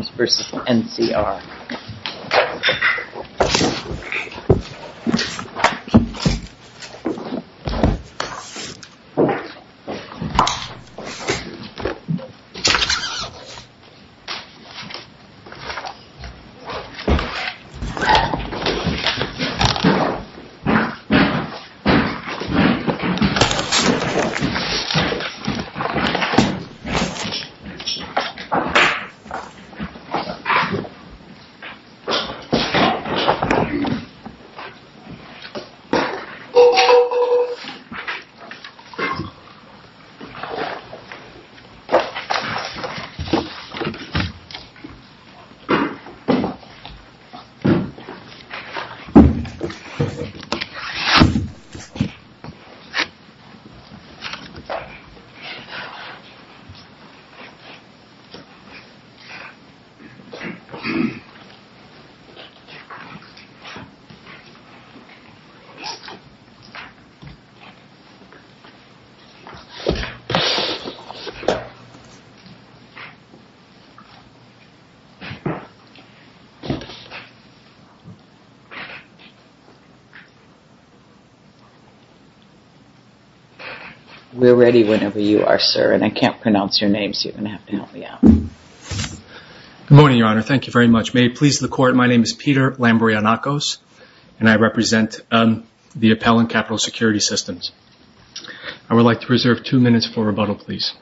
Security Systems v. NCR Security Systems, Inc. v. NCR Security Systems, Inc. v. NCR Good morning, Your Honor. Thank you very much. May it please the Court, my name is Peter Lambourianakos and I represent the Appellant Capital Security Systems. I would like to reserve two minutes for rebuttal, please.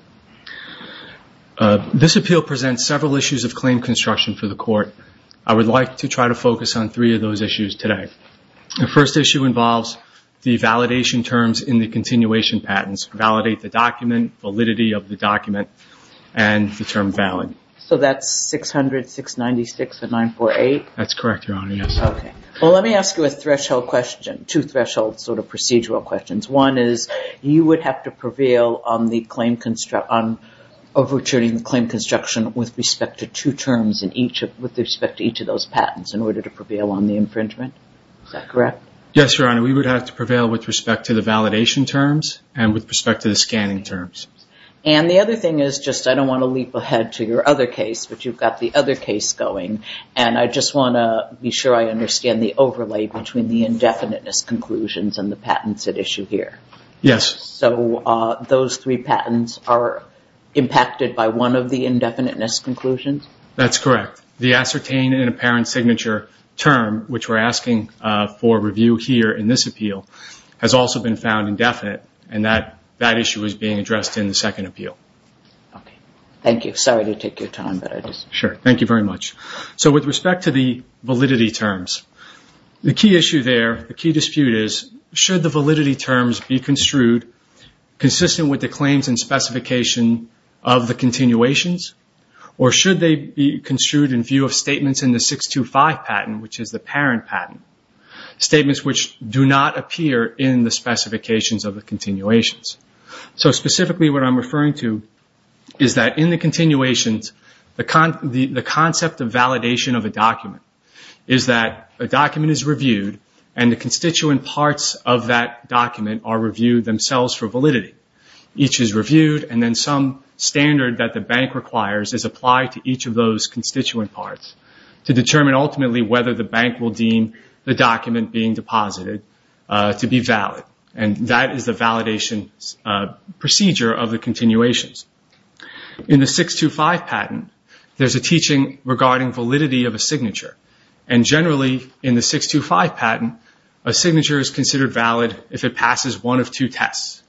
This appeal presents several issues of claim construction for the Court. I would like to try to focus on three of those issues today. The first issue involves the validation terms in the continuation patents. Validate the infringement terms. I would like to ask you two threshold procedural questions. One is you would have to prevail on overturning the claim construction with respect to each of those patents in order to prevail on the infringement. Is that correct? Yes, Your Honor. We would have to prevail with respect to the validation terms and with respect to the scanning terms. And the other thing is, I don't want to leap ahead to your other case, but you've got the other case going, and I just want to be sure I understand the overlay between the indefiniteness conclusions and the patents at issue here. Yes. So those three patents are impacted by one of the indefiniteness conclusions? That's correct. The ascertained and apparent signature term, which we're asking for review here in this appeal, has also been found indefinite, and that issue is being addressed in the second appeal. Thank you. Sorry to take your time. Sure. Thank you very much. So with respect to the validity terms, the key issue there, the key dispute is, should the validity terms be construed consistent with the claims and specification of the continuations, or should they be construed in view of statements in the 625 patent, which is the parent patent? Statements which do not appear in the specifications of the continuations. So specifically what I'm referring to is that in the continuations, the concept of validation of a document is that a document is reviewed, and the constituent parts of that document are reviewed themselves for validity. Each is reviewed, and then some standard that the bank requires is applied to each of those constituent parts to determine ultimately whether the bank will deem the document being deposited to be valid, and that is the validation procedure of the continuations. In the 625 patent, there's a teaching regarding validity of a signature, and generally in the 625 patent, a signature is considered valid if it passes one of two tests.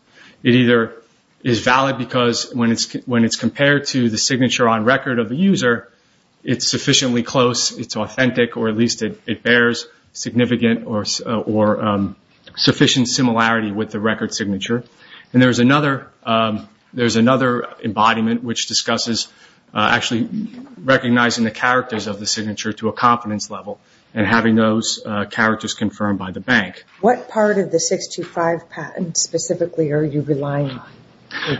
It either is valid because when it's compared to the signature on record of the user, it's sufficiently close, it's authentic, or at least it bears significant or sufficient similarity with the record signature. There's another embodiment which discusses actually recognizing the characters of the signature to a confidence level, and having those characters confirmed by the bank. What part of the 625 patent specifically are you relying on?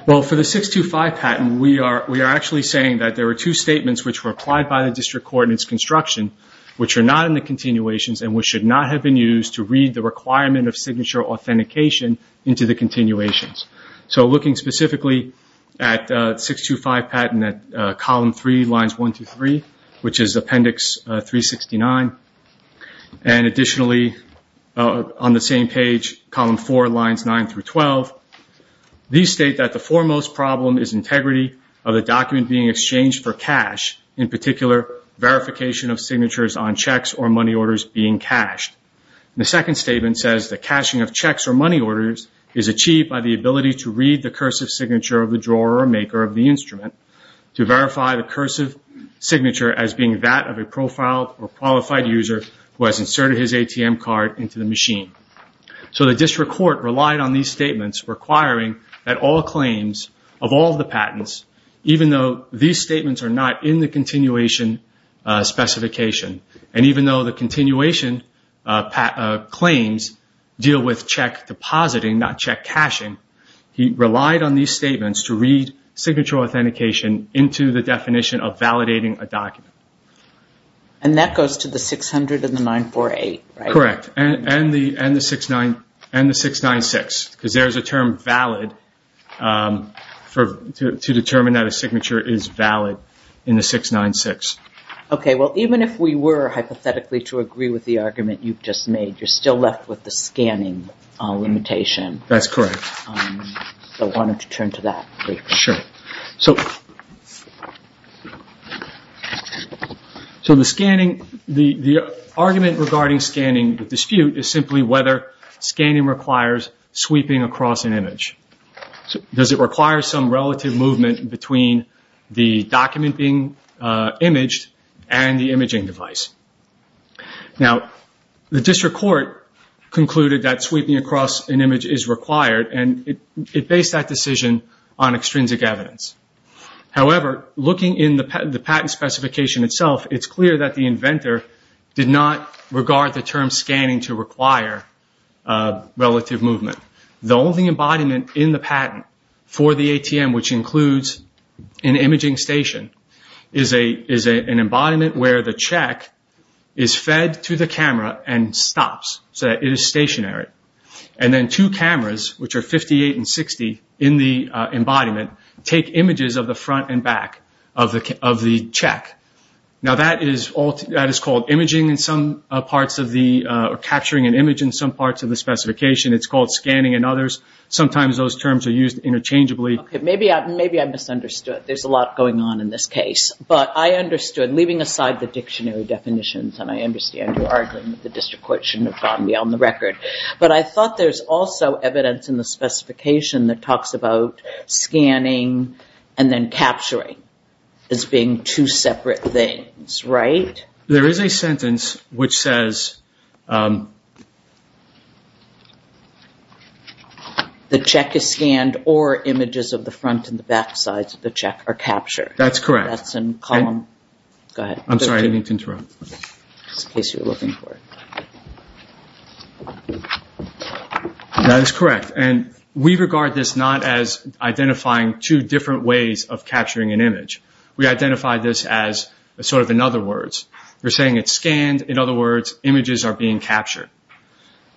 Well, for the 625 patent, we are actually saying that there are two statements which were applied by the District Coordinates Construction, which are not in continuations, and which should not have been used to read the requirement of signature authentication into the continuations. So looking specifically at 625 patent at Column 3, Lines 1 through 3, which is Appendix 369, and additionally on the same page, Column 4, Lines 9 through 12, these state that the foremost problem is integrity of the document being exchanged for cash, in particular, verification of signatures on checks or money orders being cashed. The second statement says the cashing of checks or money orders is achieved by the ability to read the cursive signature of the drawer or maker of the instrument to verify the cursive signature as being that of a profiled or qualified user who has inserted his ATM card into the machine. So the District Court relied on these statements requiring that all claims of all the patents, even though these statements are not in the continuation specification, and even though the continuation claims deal with check depositing, not check cashing, he relied on these statements to read signature authentication into the definition of validating a document. And that goes to the 600 and the 948, right? Correct. And the 696, because there is a term valid to determine that a signature is valid in the 696. Okay. Well, even if we were hypothetically to agree with the argument you've just made, you're still left with the scanning limitation. That's correct. So why don't you turn to that briefly? So the argument regarding scanning dispute is simply whether scanning requires sweeping across an image. Does it require some relative movement between the document being imaged and the imaging device? Now, the District Court concluded that sweeping across an image is required, and it based that decision on extrinsic evidence. However, looking in the patent specification itself, it's clear that the inventor did not regard the term scanning to require relative movement. The only embodiment in the patent for the ATM, which includes an imaging station, is an embodiment where the check is fed to the camera and stops, so it is stationary. And then two cameras, which are 58 and 60 in the embodiment, take images of the front and back of the check. Now, that is called imaging in some parts of the, or capturing an image in some parts of the specification. It's called scanning and others. Sometimes those terms are used interchangeably. Okay. Maybe I misunderstood. There's a lot going on in this case. But I understood, leaving aside the dictionary definitions, and I understand you're arguing that the record. But I thought there's also evidence in the specification that talks about scanning and then capturing as being two separate things, right? There is a sentence which says, the check is scanned or images of the front and the back sides of the check are captured. That's correct. That's in column, go ahead. I'm sorry, I didn't mean to interrupt. Just in case you're looking for it. That is correct. And we regard this not as identifying two different ways of capturing an image. We identify this as sort of, in other words, you're saying it's scanned. In other words, images are being captured.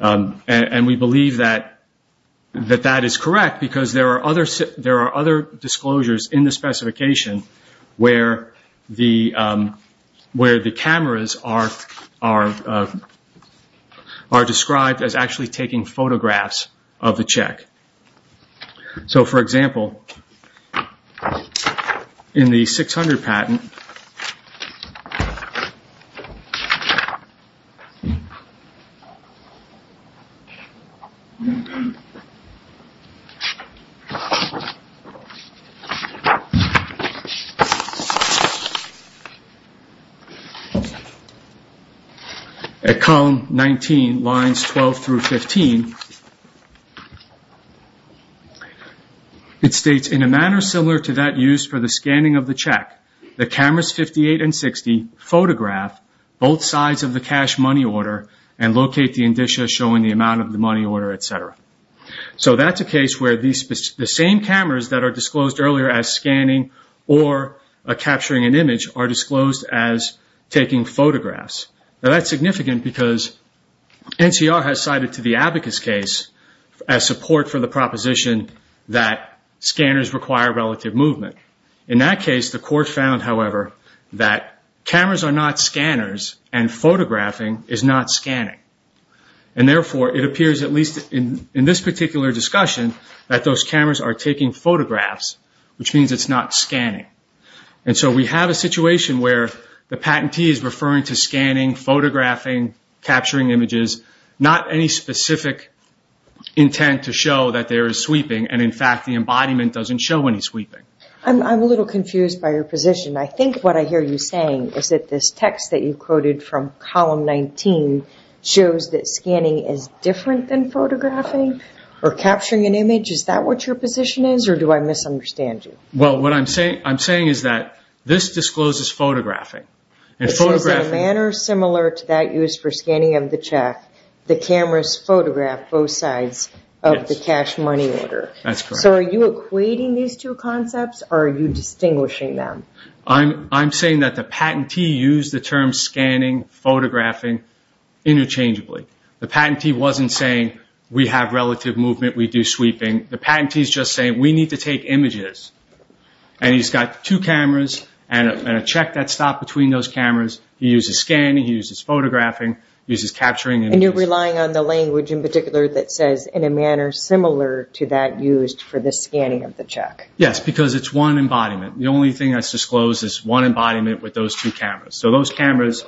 And we believe that that is correct because there are other disclosures in the specification where the cameras are described as actually taking photographs of the check. So, for example, in the 600 patent, at column 19, lines 12 through 15, it states, in a manner similar to that used for the scanning of the check, the cameras 58 and 60 photograph both sides of the cash money order and locate the indicia showing the amount of the money order, et cetera. So that's a case where the same cameras that are disclosed earlier as scanning or capturing an image are disclosed as taking photographs. Now that's significant because NCR has cited to the abacus case as support for the proposition that scanners require relative movement. In that case, the court found, however, that cameras are not scanners and photographing is not scanning. And therefore, it appears, at least in this particular discussion, that those cameras are taking photographs, which means it's not scanning. And so we have a situation where the patentee is referring to scanning, photographing, capturing images, not any specific intent to show that there is sweeping. And in fact, the embodiment doesn't show any sweeping. I'm a little confused by your position. I think what I hear you saying is that this text that you quoted from column 19 shows that scanning is different than photographing or capturing an image. Is that what your position is, or do I misunderstand you? Well, what I'm saying is that this discloses photographing. It says, in a manner similar to that used for scanning of the check, the cameras photograph both sides of the cash money order. That's correct. Are you equating these two concepts, or are you distinguishing them? I'm saying that the patentee used the term scanning, photographing interchangeably. The patentee wasn't saying, we have relative movement, we do sweeping. The patentee is just saying, we need to take images. And he's got two cameras and a check that's stopped between those cameras. He uses scanning, he uses photographing, he uses capturing images. And you're relying on the language in particular that says, in a manner similar to that used for the scanning of the check. Yes, because it's one embodiment. The only thing that's disclosed is one embodiment with those two cameras. So those cameras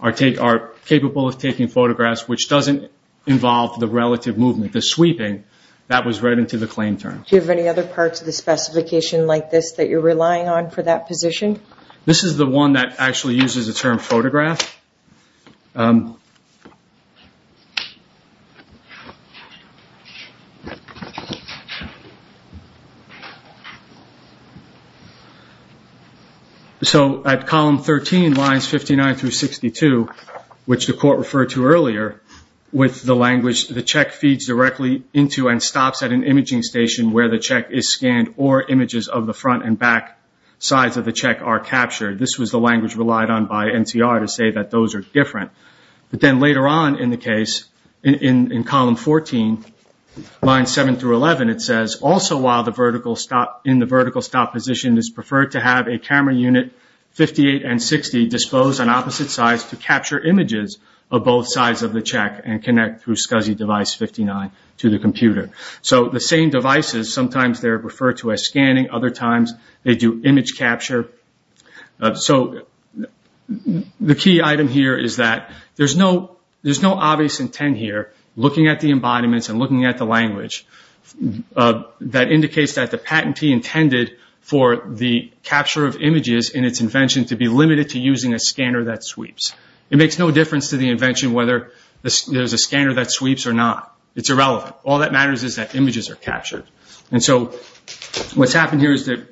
are capable of taking photographs, which doesn't involve the relative movement. The sweeping, that was read into the claim term. Do you have any other parts of the specification like this that you're relying on for that position? This is the one that actually uses the term photograph. So, at column 13, lines 59 through 62, which the court referred to earlier, with the language, the check feeds directly into and stops at an imaging station where the check is scanned or images of the front and back sides of the check are captured. This was the language relied on by NCR to say that those are different. But then later on in the case, in column 14, lines 7 through 11, it says, also while in the vertical stop position is preferred to have a camera unit 58 and 60 disposed on opposite sides to capture images of both sides of the check and connect through SCSI device 59 to the computer. So the same devices, sometimes they're referred to as scanning, other times they do image capture. So, the key item here is that there's no obvious intent here, looking at the embodiments and looking at the language, that indicates that the patentee intended for the capture of images in its invention to be limited to using a scanner that sweeps. It makes no difference to the invention whether there's a scanner that sweeps or not. It's irrelevant. All that matters is that images are captured. And so, what's happened here is that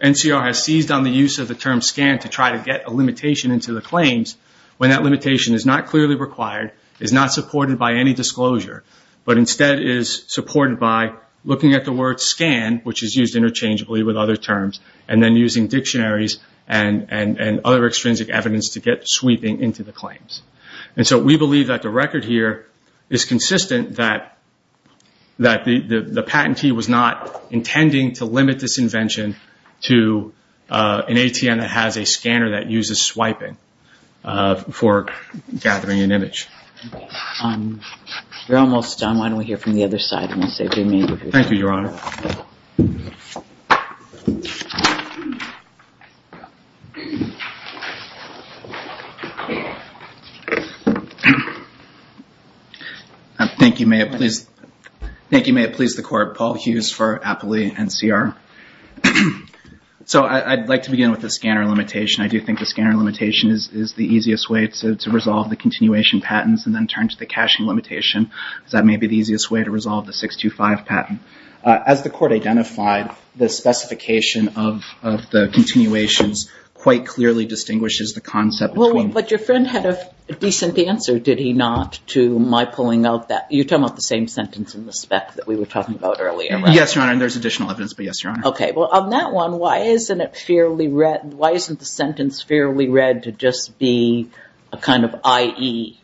NCR has seized on the use of the term scan to try to get a limitation into the claims, when that limitation is not clearly required, is not supported by any disclosure, but instead is supported by looking at the word scan, which is used interchangeably with other terms, and then using dictionaries and other extrinsic evidence to get sweeping into the claims. And so, we believe that the record here is consistent, that the patentee was not intending to limit this invention to an ATM that has a scanner that uses swiping for gathering an image. Um, you're almost done. Why don't we hear from the other side and we'll save you a minute. Thank you, Your Honor. Thank you. May it please the court. Paul Hughes for Appley NCR. So, I'd like to begin with the scanner limitation. I do think the scanner limitation is the easiest way to resolve the continuation patents and then turn to the caching limitation, because that may be the easiest way to resolve the 625 patent. As the court identified, the specification of the continuations quite clearly distinguishes the concept between... But your friend had a decent answer, did he not, to my pulling out that... You're talking about the same sentence in the spec that we were talking about earlier, right? Yes, Your Honor. And there's additional evidence, but yes, Your Honor. Okay. Well, on that one, why isn't it fairly read... IE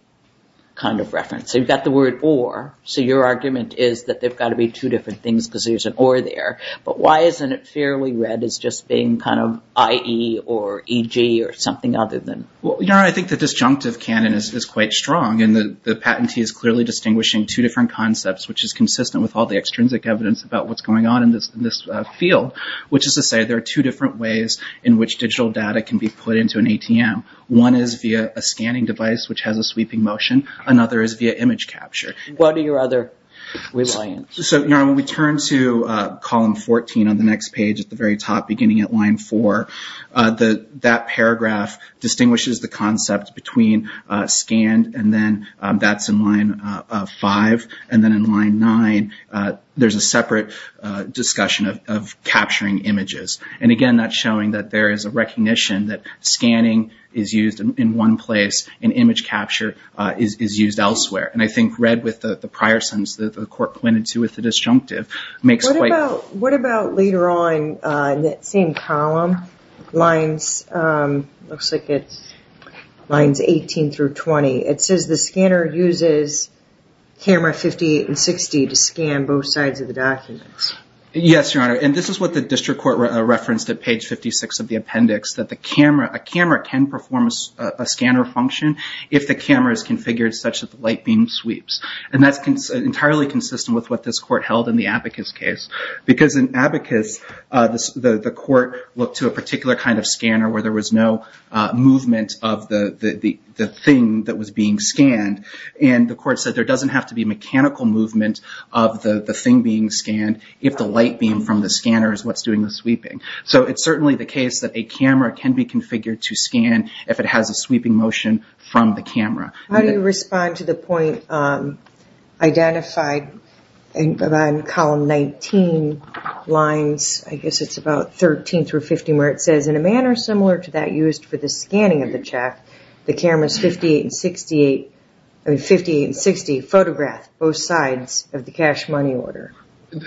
kind of reference? So, you've got the word or. So, your argument is that they've got to be two different things because there's an or there. But why isn't it fairly read as just being kind of IE or EG or something other than... Well, Your Honor, I think the disjunctive canon is quite strong. And the patentee is clearly distinguishing two different concepts, which is consistent with all the extrinsic evidence about what's going on in this field, which is to say there are two different ways in which digital data can be put into an ATM. One is via a scanning device, which has a sweeping motion. Another is via image capture. What are your other reliance? So, Your Honor, when we turn to column 14 on the next page at the very top, beginning at line four, that paragraph distinguishes the concept between scanned and then that's in line five. And then in line nine, there's a separate discussion of capturing images. And again, that's showing that there is a recognition that scanning is used in one place and image capture is used elsewhere. And I think read with the prior sentence that the court pointed to with the disjunctive makes quite... What about later on in that same column? Lines... Looks like it's lines 18 through 20. It says the scanner uses camera 58 and 60 to scan both sides of the documents. Yes, Your Honor. And this is what the district court referenced at page 56 of the appendix, a camera can perform a scanner function if the camera is configured such that the light beam sweeps. And that's entirely consistent with what this court held in the Abacus case. Because in Abacus, the court looked to a particular kind of scanner where there was no movement of the thing that was being scanned. And the court said there doesn't have to be mechanical movement of the thing being scanned if the light beam from the scanner is what's doing the sweeping. So it's certainly the case that a camera can be configured to scan if it has a sweeping motion from the camera. How do you respond to the point identified in column 19 lines? I guess it's about 13 through 15 where it says, in a manner similar to that used for the scanning of the check, the cameras 58 and 60 photograph both sides of the cash money order.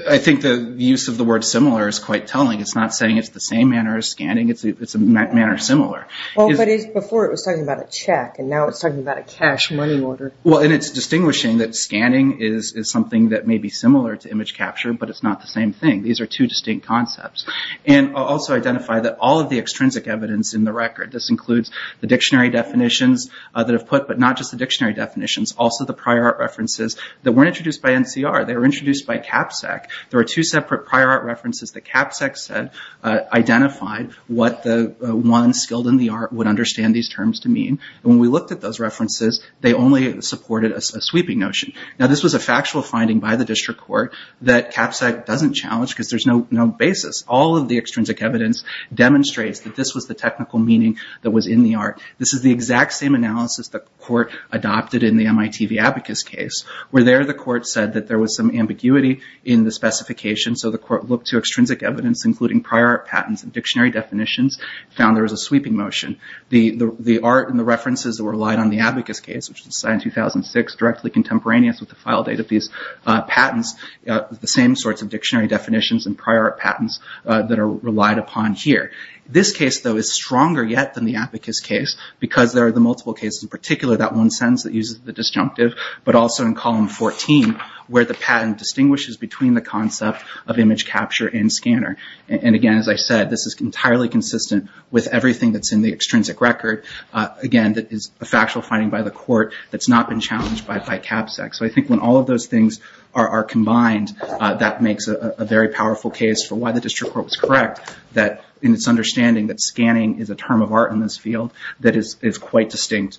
I think the use of the word similar is quite telling. It's not saying it's the same manner as scanning. It's a manner similar. Well, but before it was talking about a check, and now it's talking about a cash money order. Well, and it's distinguishing that scanning is something that may be similar to image capture, but it's not the same thing. These are two distinct concepts. And also identify that all of the extrinsic evidence in the record, this includes the dictionary definitions that have put, but not just the dictionary definitions, also the prior art references that weren't introduced by NCR. They were introduced by CAPSEC. There are two separate prior art references that CAPSEC said identified what the one skilled in the art would understand these terms to mean. And when we looked at those references, they only supported a sweeping notion. Now, this was a factual finding by the district court that CAPSEC doesn't challenge because there's no basis. All of the extrinsic evidence demonstrates that this was the technical meaning that was in the art. This is the exact same analysis the court adopted in the MIT Viabicus case, where there the court said that there was some ambiguity in the specification. So the court looked to extrinsic evidence, including prior art patents and dictionary definitions, found there was a sweeping motion. The art and the references that were relied on the Abacus case, which was signed in 2006, directly contemporaneous with the file date of these patents, the same sorts of dictionary definitions and prior art patents that are relied upon here. This case, though, is stronger yet than the Abacus case because there are the multiple cases, in particular that one sentence that uses the disjunctive, but also in column 14, where the patent distinguishes between the concept of image capture and scanner. And again, as I said, this is entirely consistent with everything that's in the extrinsic record. Again, that is a factual finding by the court that's not been challenged by CAPSEC. So I think when all of those things are combined, that makes a very powerful case for why the district court was correct, that in its understanding that scanning is a term of art in this field that is quite distinct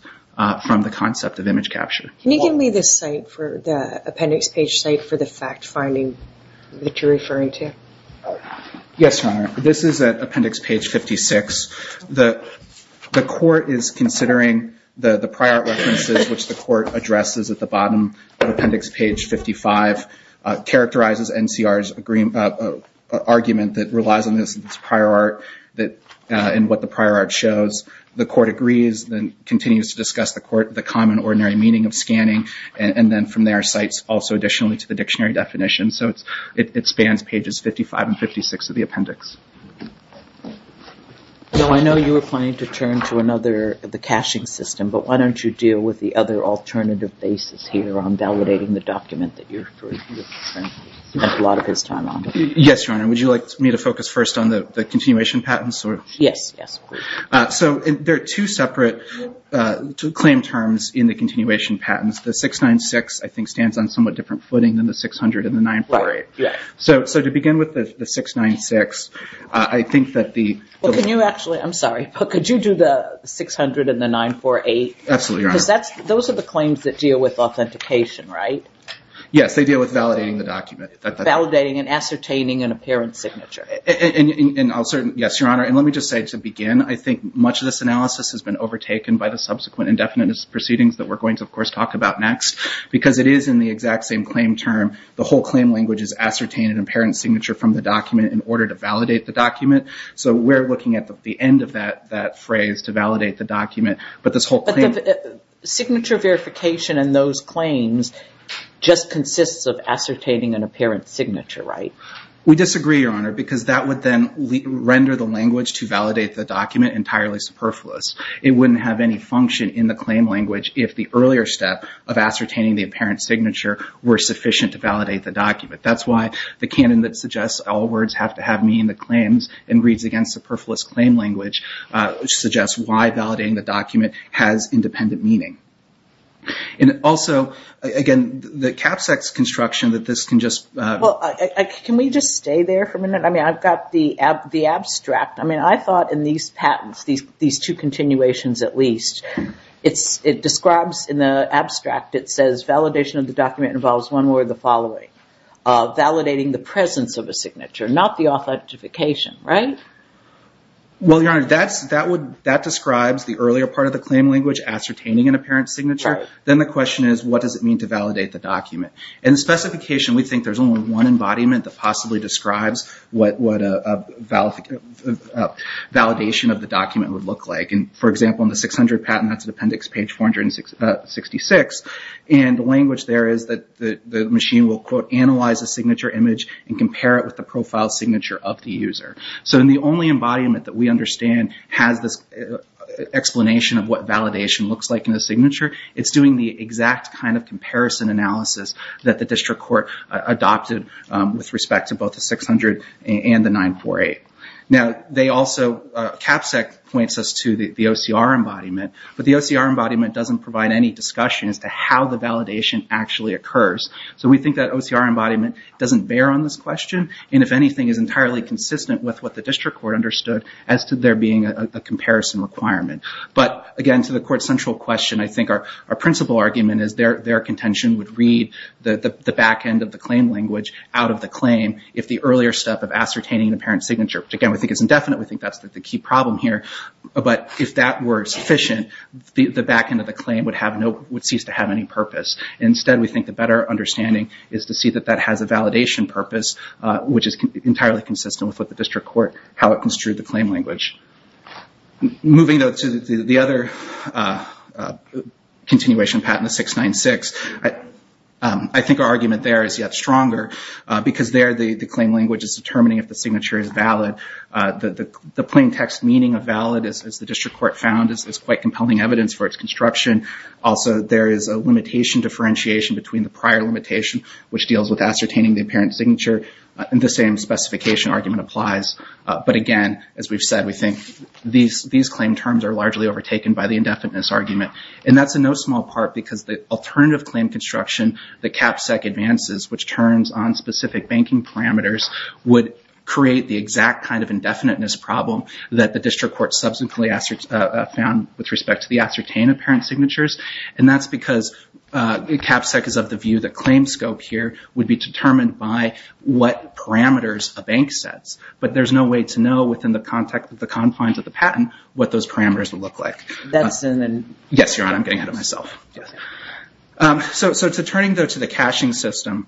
from the concept of image capture. Can you give me the appendix page site for the fact finding that you're referring to? Yes, Your Honor. This is at appendix page 56. The court is considering the prior art references, which the court addresses at the bottom of appendix page 55, characterizes NCR's argument that relies on this prior art and what the prior art shows. The court agrees, then continues to discuss the court the common ordinary meaning of scanning. And then from there, cites also additionally to the dictionary definition. So it spans pages 55 and 56 of the appendix. So I know you were planning to turn to another, the caching system, but why don't you deal with the other alternative basis here on validating the document that you're referring to? You spent a lot of his time on. Yes, Your Honor. Would you like me to focus first on the continuation patents? Yes, yes. So there are two separate claim terms in the continuation patents. The 696, I think, stands on somewhat different footing than the 600 and the 948. So to begin with the 696, I think that the- Well, can you actually, I'm sorry, could you do the 600 and the 948? Absolutely, Your Honor. Those are the claims that deal with authentication, right? Yes, they deal with validating the document. Validating and ascertaining an apparent signature. And I'll certainly, yes, Your Honor. And let me just say to begin, much of this analysis has been overtaken by the subsequent indefinite proceedings that we're going to, of course, talk about next. Because it is in the exact same claim term, the whole claim language is ascertained an apparent signature from the document in order to validate the document. So we're looking at the end of that phrase to validate the document. But this whole claim- But the signature verification and those claims just consists of ascertaining an apparent signature, right? We disagree, Your Honor, because that would then render the language to validate the document entirely superfluous. It wouldn't have any function in the claim language if the earlier step of ascertaining the apparent signature were sufficient to validate the document. That's why the canon that suggests all words have to have meaning in the claims and reads against the superfluous claim language suggests why validating the document has independent meaning. And also, again, the cap sex construction that this can just- Well, can we just stay there for a minute? I mean, I've got the abstract. I mean, I thought in these patents, these two continuations at least, it describes in the abstract, it says validation of the document involves one word, the following. Validating the presence of a signature, not the authentication, right? Well, Your Honor, that describes the earlier part of the claim language, ascertaining an apparent signature. Then the question is, what does it mean to validate the document? In specification, we think there's only one embodiment that possibly describes what a validation of the document would look like. And for example, in the 600 patent, that's an appendix page 466. And the language there is that the machine will, quote, analyze a signature image and compare it with the profile signature of the user. So in the only embodiment that we understand has this explanation of what validation looks like in the signature, it's doing the exact kind of comparison analysis that the district court adopted with respect to both the 600 and the 948. Now, they also, CAPSEC points us to the OCR embodiment, but the OCR embodiment doesn't provide any discussion as to how the validation actually occurs. So we think that OCR embodiment doesn't bear on this question. And if anything is entirely consistent with what the district court understood as to there being a comparison requirement. But again, to the court central question, I think our principal argument is their contention would read the back end of the claim language out of the claim if the earlier step of ascertaining the parent signature, which again, we think is indefinite. We think that's the key problem here. But if that were sufficient, the back end of the claim would cease to have any purpose. Instead, we think the better understanding is to see that that has a validation purpose, which is entirely consistent with what the district court, how it construed the claim language. Moving though to the other continuation patent of 696, I think our argument there is yet stronger because there the claim language is determining if the signature is valid. The plain text meaning of valid as the district court found is quite compelling evidence for its construction. Also, there is a limitation differentiation between the prior limitation, which deals with ascertaining the apparent signature and the same specification argument applies. But again, as we've said, we think these claim terms are largely overtaken by the indefiniteness argument. And that's in no small part because the alternative claim construction that CAPSEC advances, which turns on specific banking parameters, would create the exact kind of indefiniteness problem that the district court subsequently found with respect to the ascertain apparent signatures. And that's because CAPSEC is of the view that claim scope here would be determined by what parameters a bank sets. But there's no way to know within the context of the confines of the patent what those parameters would look like. Yes, Your Honor, I'm getting ahead of myself. So turning though to the caching system,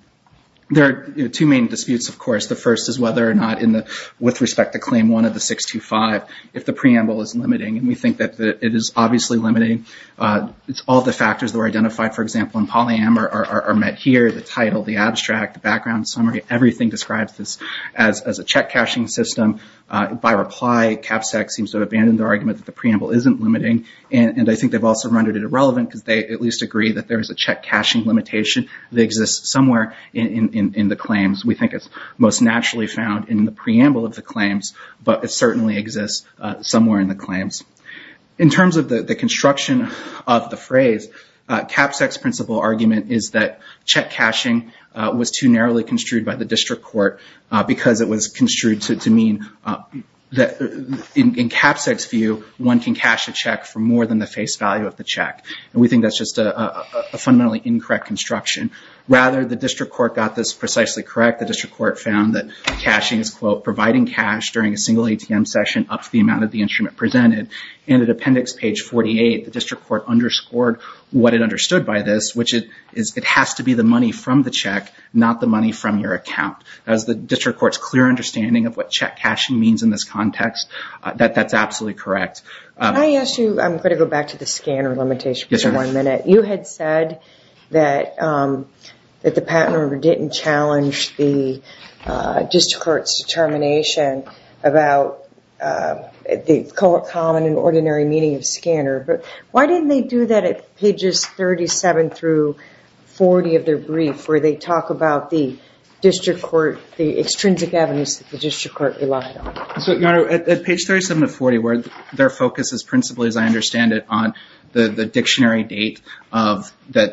there are two main disputes, of course. The first is whether or not in the with respect to claim one of the 625, if the preamble is limiting and we think that it is obviously limiting. All the factors that were identified, for example, in polyamor are met here. The title, the abstract, the background summary, everything describes this as a check caching system. By reply, CAPSEC seems to have abandoned the argument that the preamble isn't limiting. And I think they've also rendered it irrelevant because they at least agree that there is a check caching limitation that exists somewhere in the claims. We think it's most naturally found in the preamble of the claims, but it certainly exists somewhere in the claims. In terms of the construction of the phrase, CAPSEC's principle argument is that check caching was too narrowly construed by the district court because it was construed to mean that in CAPSEC's view, one can cache a check for more than the face value of the check. And we think that's just a fundamentally incorrect construction. Rather, the district court got this precisely correct. The district court found that caching is, quote, providing cash during a single ATM session up to the amount of the instrument presented. In the appendix page 48, the district court underscored what it understood by this, which is it has to be the money from the check, not the money from your account. That was the district court's clear understanding of what check caching means in this context. That's absolutely correct. Can I ask you, I'm going to go back to the scanner limitation for one minute. You had said that the patent number didn't challenge the district court's determination about the common and ordinary meaning of scanner, but why didn't they do that at pages 37 through 40 of their brief, where they talk about the district court, the extrinsic evidence that the district court relied on? So, Your Honor, at page 37 to 40, where their focus is principally, as I understand it, on the dictionary date of the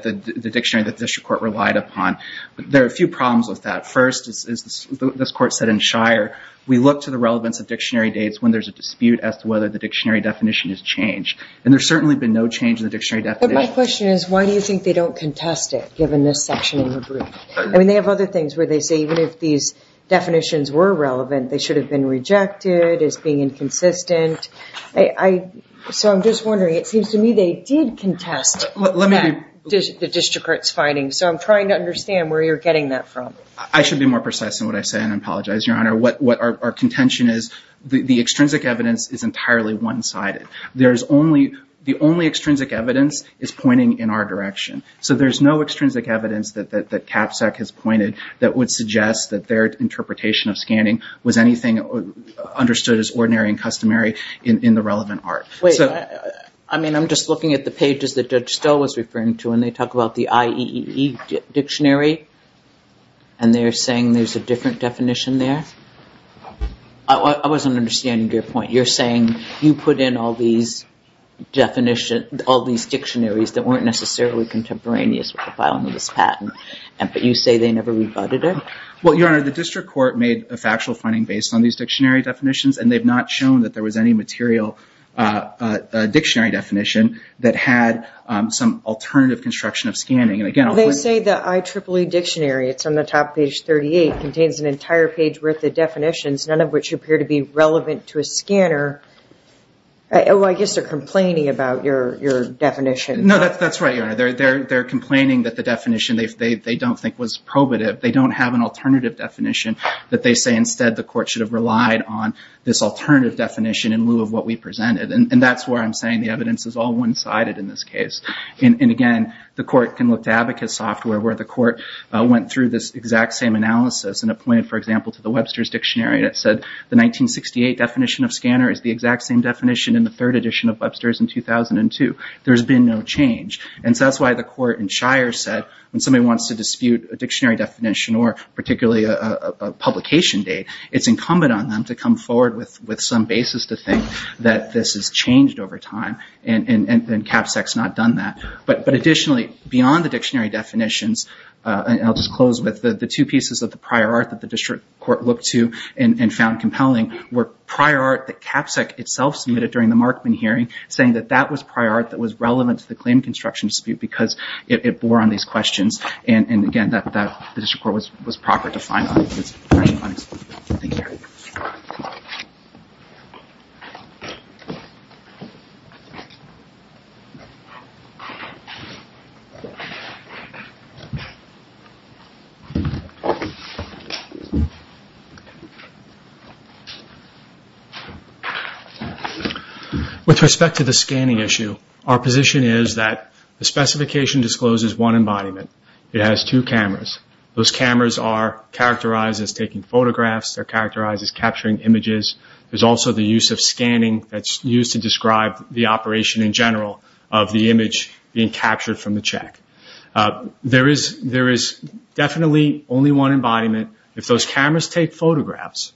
dictionary that the district court relied upon, there are a few problems with that. First, as this court said in Shire, we look to the relevance of dictionary dates when there's a dispute as to whether the dictionary definition has changed. And there's certainly been no change in the dictionary definition. But my question is, why do you think they don't contest it, in this section of the brief? I mean, they have other things where they say, even if these definitions were relevant, they should have been rejected as being inconsistent. So I'm just wondering, it seems to me, they did contest the district court's findings. So I'm trying to understand where you're getting that from. I should be more precise in what I say, and I apologize, Your Honor. What our contention is, the extrinsic evidence is entirely one-sided. There's only, the only extrinsic evidence is pointing in our direction. So there's no extrinsic evidence that CAPSEC has pointed that would suggest that their interpretation of scanning was anything understood as ordinary and customary in the relevant art. Wait, I mean, I'm just looking at the pages that Judge Stowe was referring to, and they talk about the IEEE dictionary. And they're saying there's a different definition there? I wasn't understanding your point. You're saying you put in all these definitions, all these dictionaries that weren't necessarily contemporaneous with the filing of this patent, but you say they never rebutted it? Well, Your Honor, the district court made a factual finding based on these dictionary definitions, and they've not shown that there was any material dictionary definition that had some alternative construction of scanning. And again, I'll point- They say the IEEE dictionary, it's on the top page 38, contains an entire page worth of definitions, none of which appear to be relevant to a scanner. Oh, I guess they're complaining about your definition. No, that's right, Your Honor. They're complaining that the definition they don't think was probative. They don't have an alternative definition that they say instead the court should have relied on this alternative definition in lieu of what we presented. And that's where I'm saying the evidence is all one-sided in this case. And again, the court can look to abacus software where the court went through this exact same analysis and it pointed, for example, to the Webster's Dictionary, and it said the 1968 definition of scanner is the exact same definition in the third edition of Webster's in 2002. There's been no change. And so that's why the court in Shire said when somebody wants to dispute a dictionary definition or particularly a publication date, it's incumbent on them to come forward with some basis to think that this has changed over time. And CAPSEC's not done that. But additionally, beyond the dictionary definitions, and I'll just close with the two pieces of the prior art that the district court looked to and found compelling were prior art that CAPSEC itself submitted during the Markman hearing saying that that was prior art that was relevant to the claim construction dispute because it bore on these questions. And again, that the district court was proper to find on. Thank you. With respect to the scanning issue, our position is that the specification discloses one embodiment. It has two cameras. Those cameras are characterized as taking photographs. They're characterized as capturing images. There's also the use of scanning that's used to describe the operation in general of the image being captured from the check. There is definitely only one embodiment if those cameras take photographs.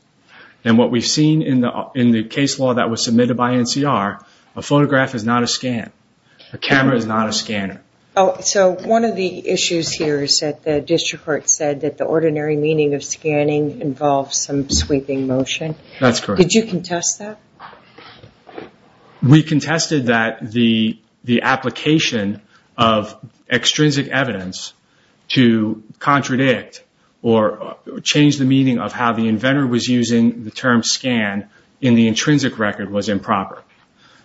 And what we've seen in the case law that was submitted by NCR, a photograph is not a scan. A camera is not a scanner. Oh, so one of the issues here is that the district court said that the ordinary meaning of scanning involves some sweeping motion. That's correct. Did you contest that? We contested that the application of extrinsic evidence to contradict or change the meaning of how the inventor was using the term scan in the intrinsic record was improper.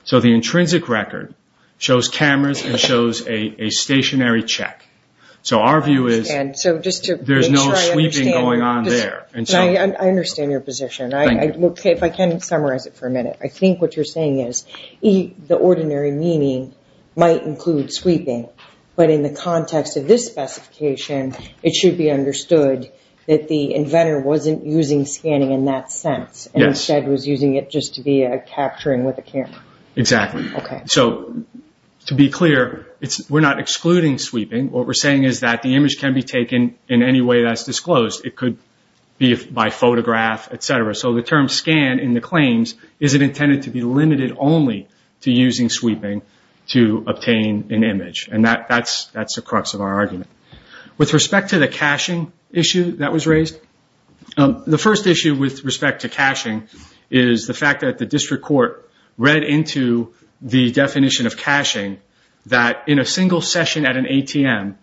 So the intrinsic record shows cameras and shows a stationary check. So our view is there's no sweeping going on there. I understand your position. If I can summarize it for a minute. I think what you're saying is the ordinary meaning might include sweeping. But in the context of this specification, it should be understood that the inventor wasn't using scanning in that sense and instead was using it just to be a capturing with a camera. Exactly. So to be clear, we're not excluding sweeping. What we're saying is that the image can be taken in any way that's disclosed. It could be by photograph, et cetera. So the term scan in the claims isn't intended to be limited only to using sweeping to obtain an image. And that's the crux of our argument. With respect to the caching issue that was raised, the first issue with respect to caching is the fact that the district court read into the definition of caching that in a single session at an ATM,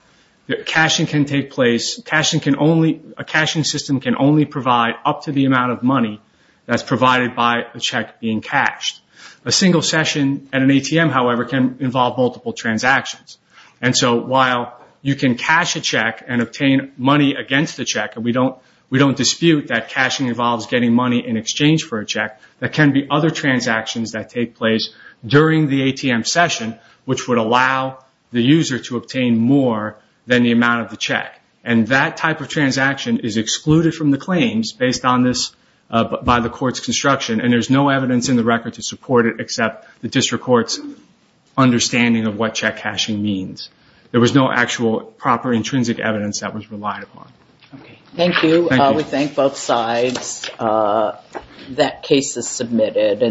caching can take place. A caching system can only provide up to the amount of money that's provided by a check being cached. A single session at an ATM, however, can involve multiple transactions. And so while you can cache a check and obtain money against the check, and we don't dispute that caching involves getting money in exchange for a check, there can be other transactions that take place during the ATM session, which would allow the user to obtain more than the amount of the check. And that type of transaction is excluded from the claims based on this by the court's construction. And there's no evidence in the record to support it except the district court's understanding of what check caching means. There was no actual proper intrinsic evidence that was relied upon. Okay. Thank you. We thank both sides. That case is submitted.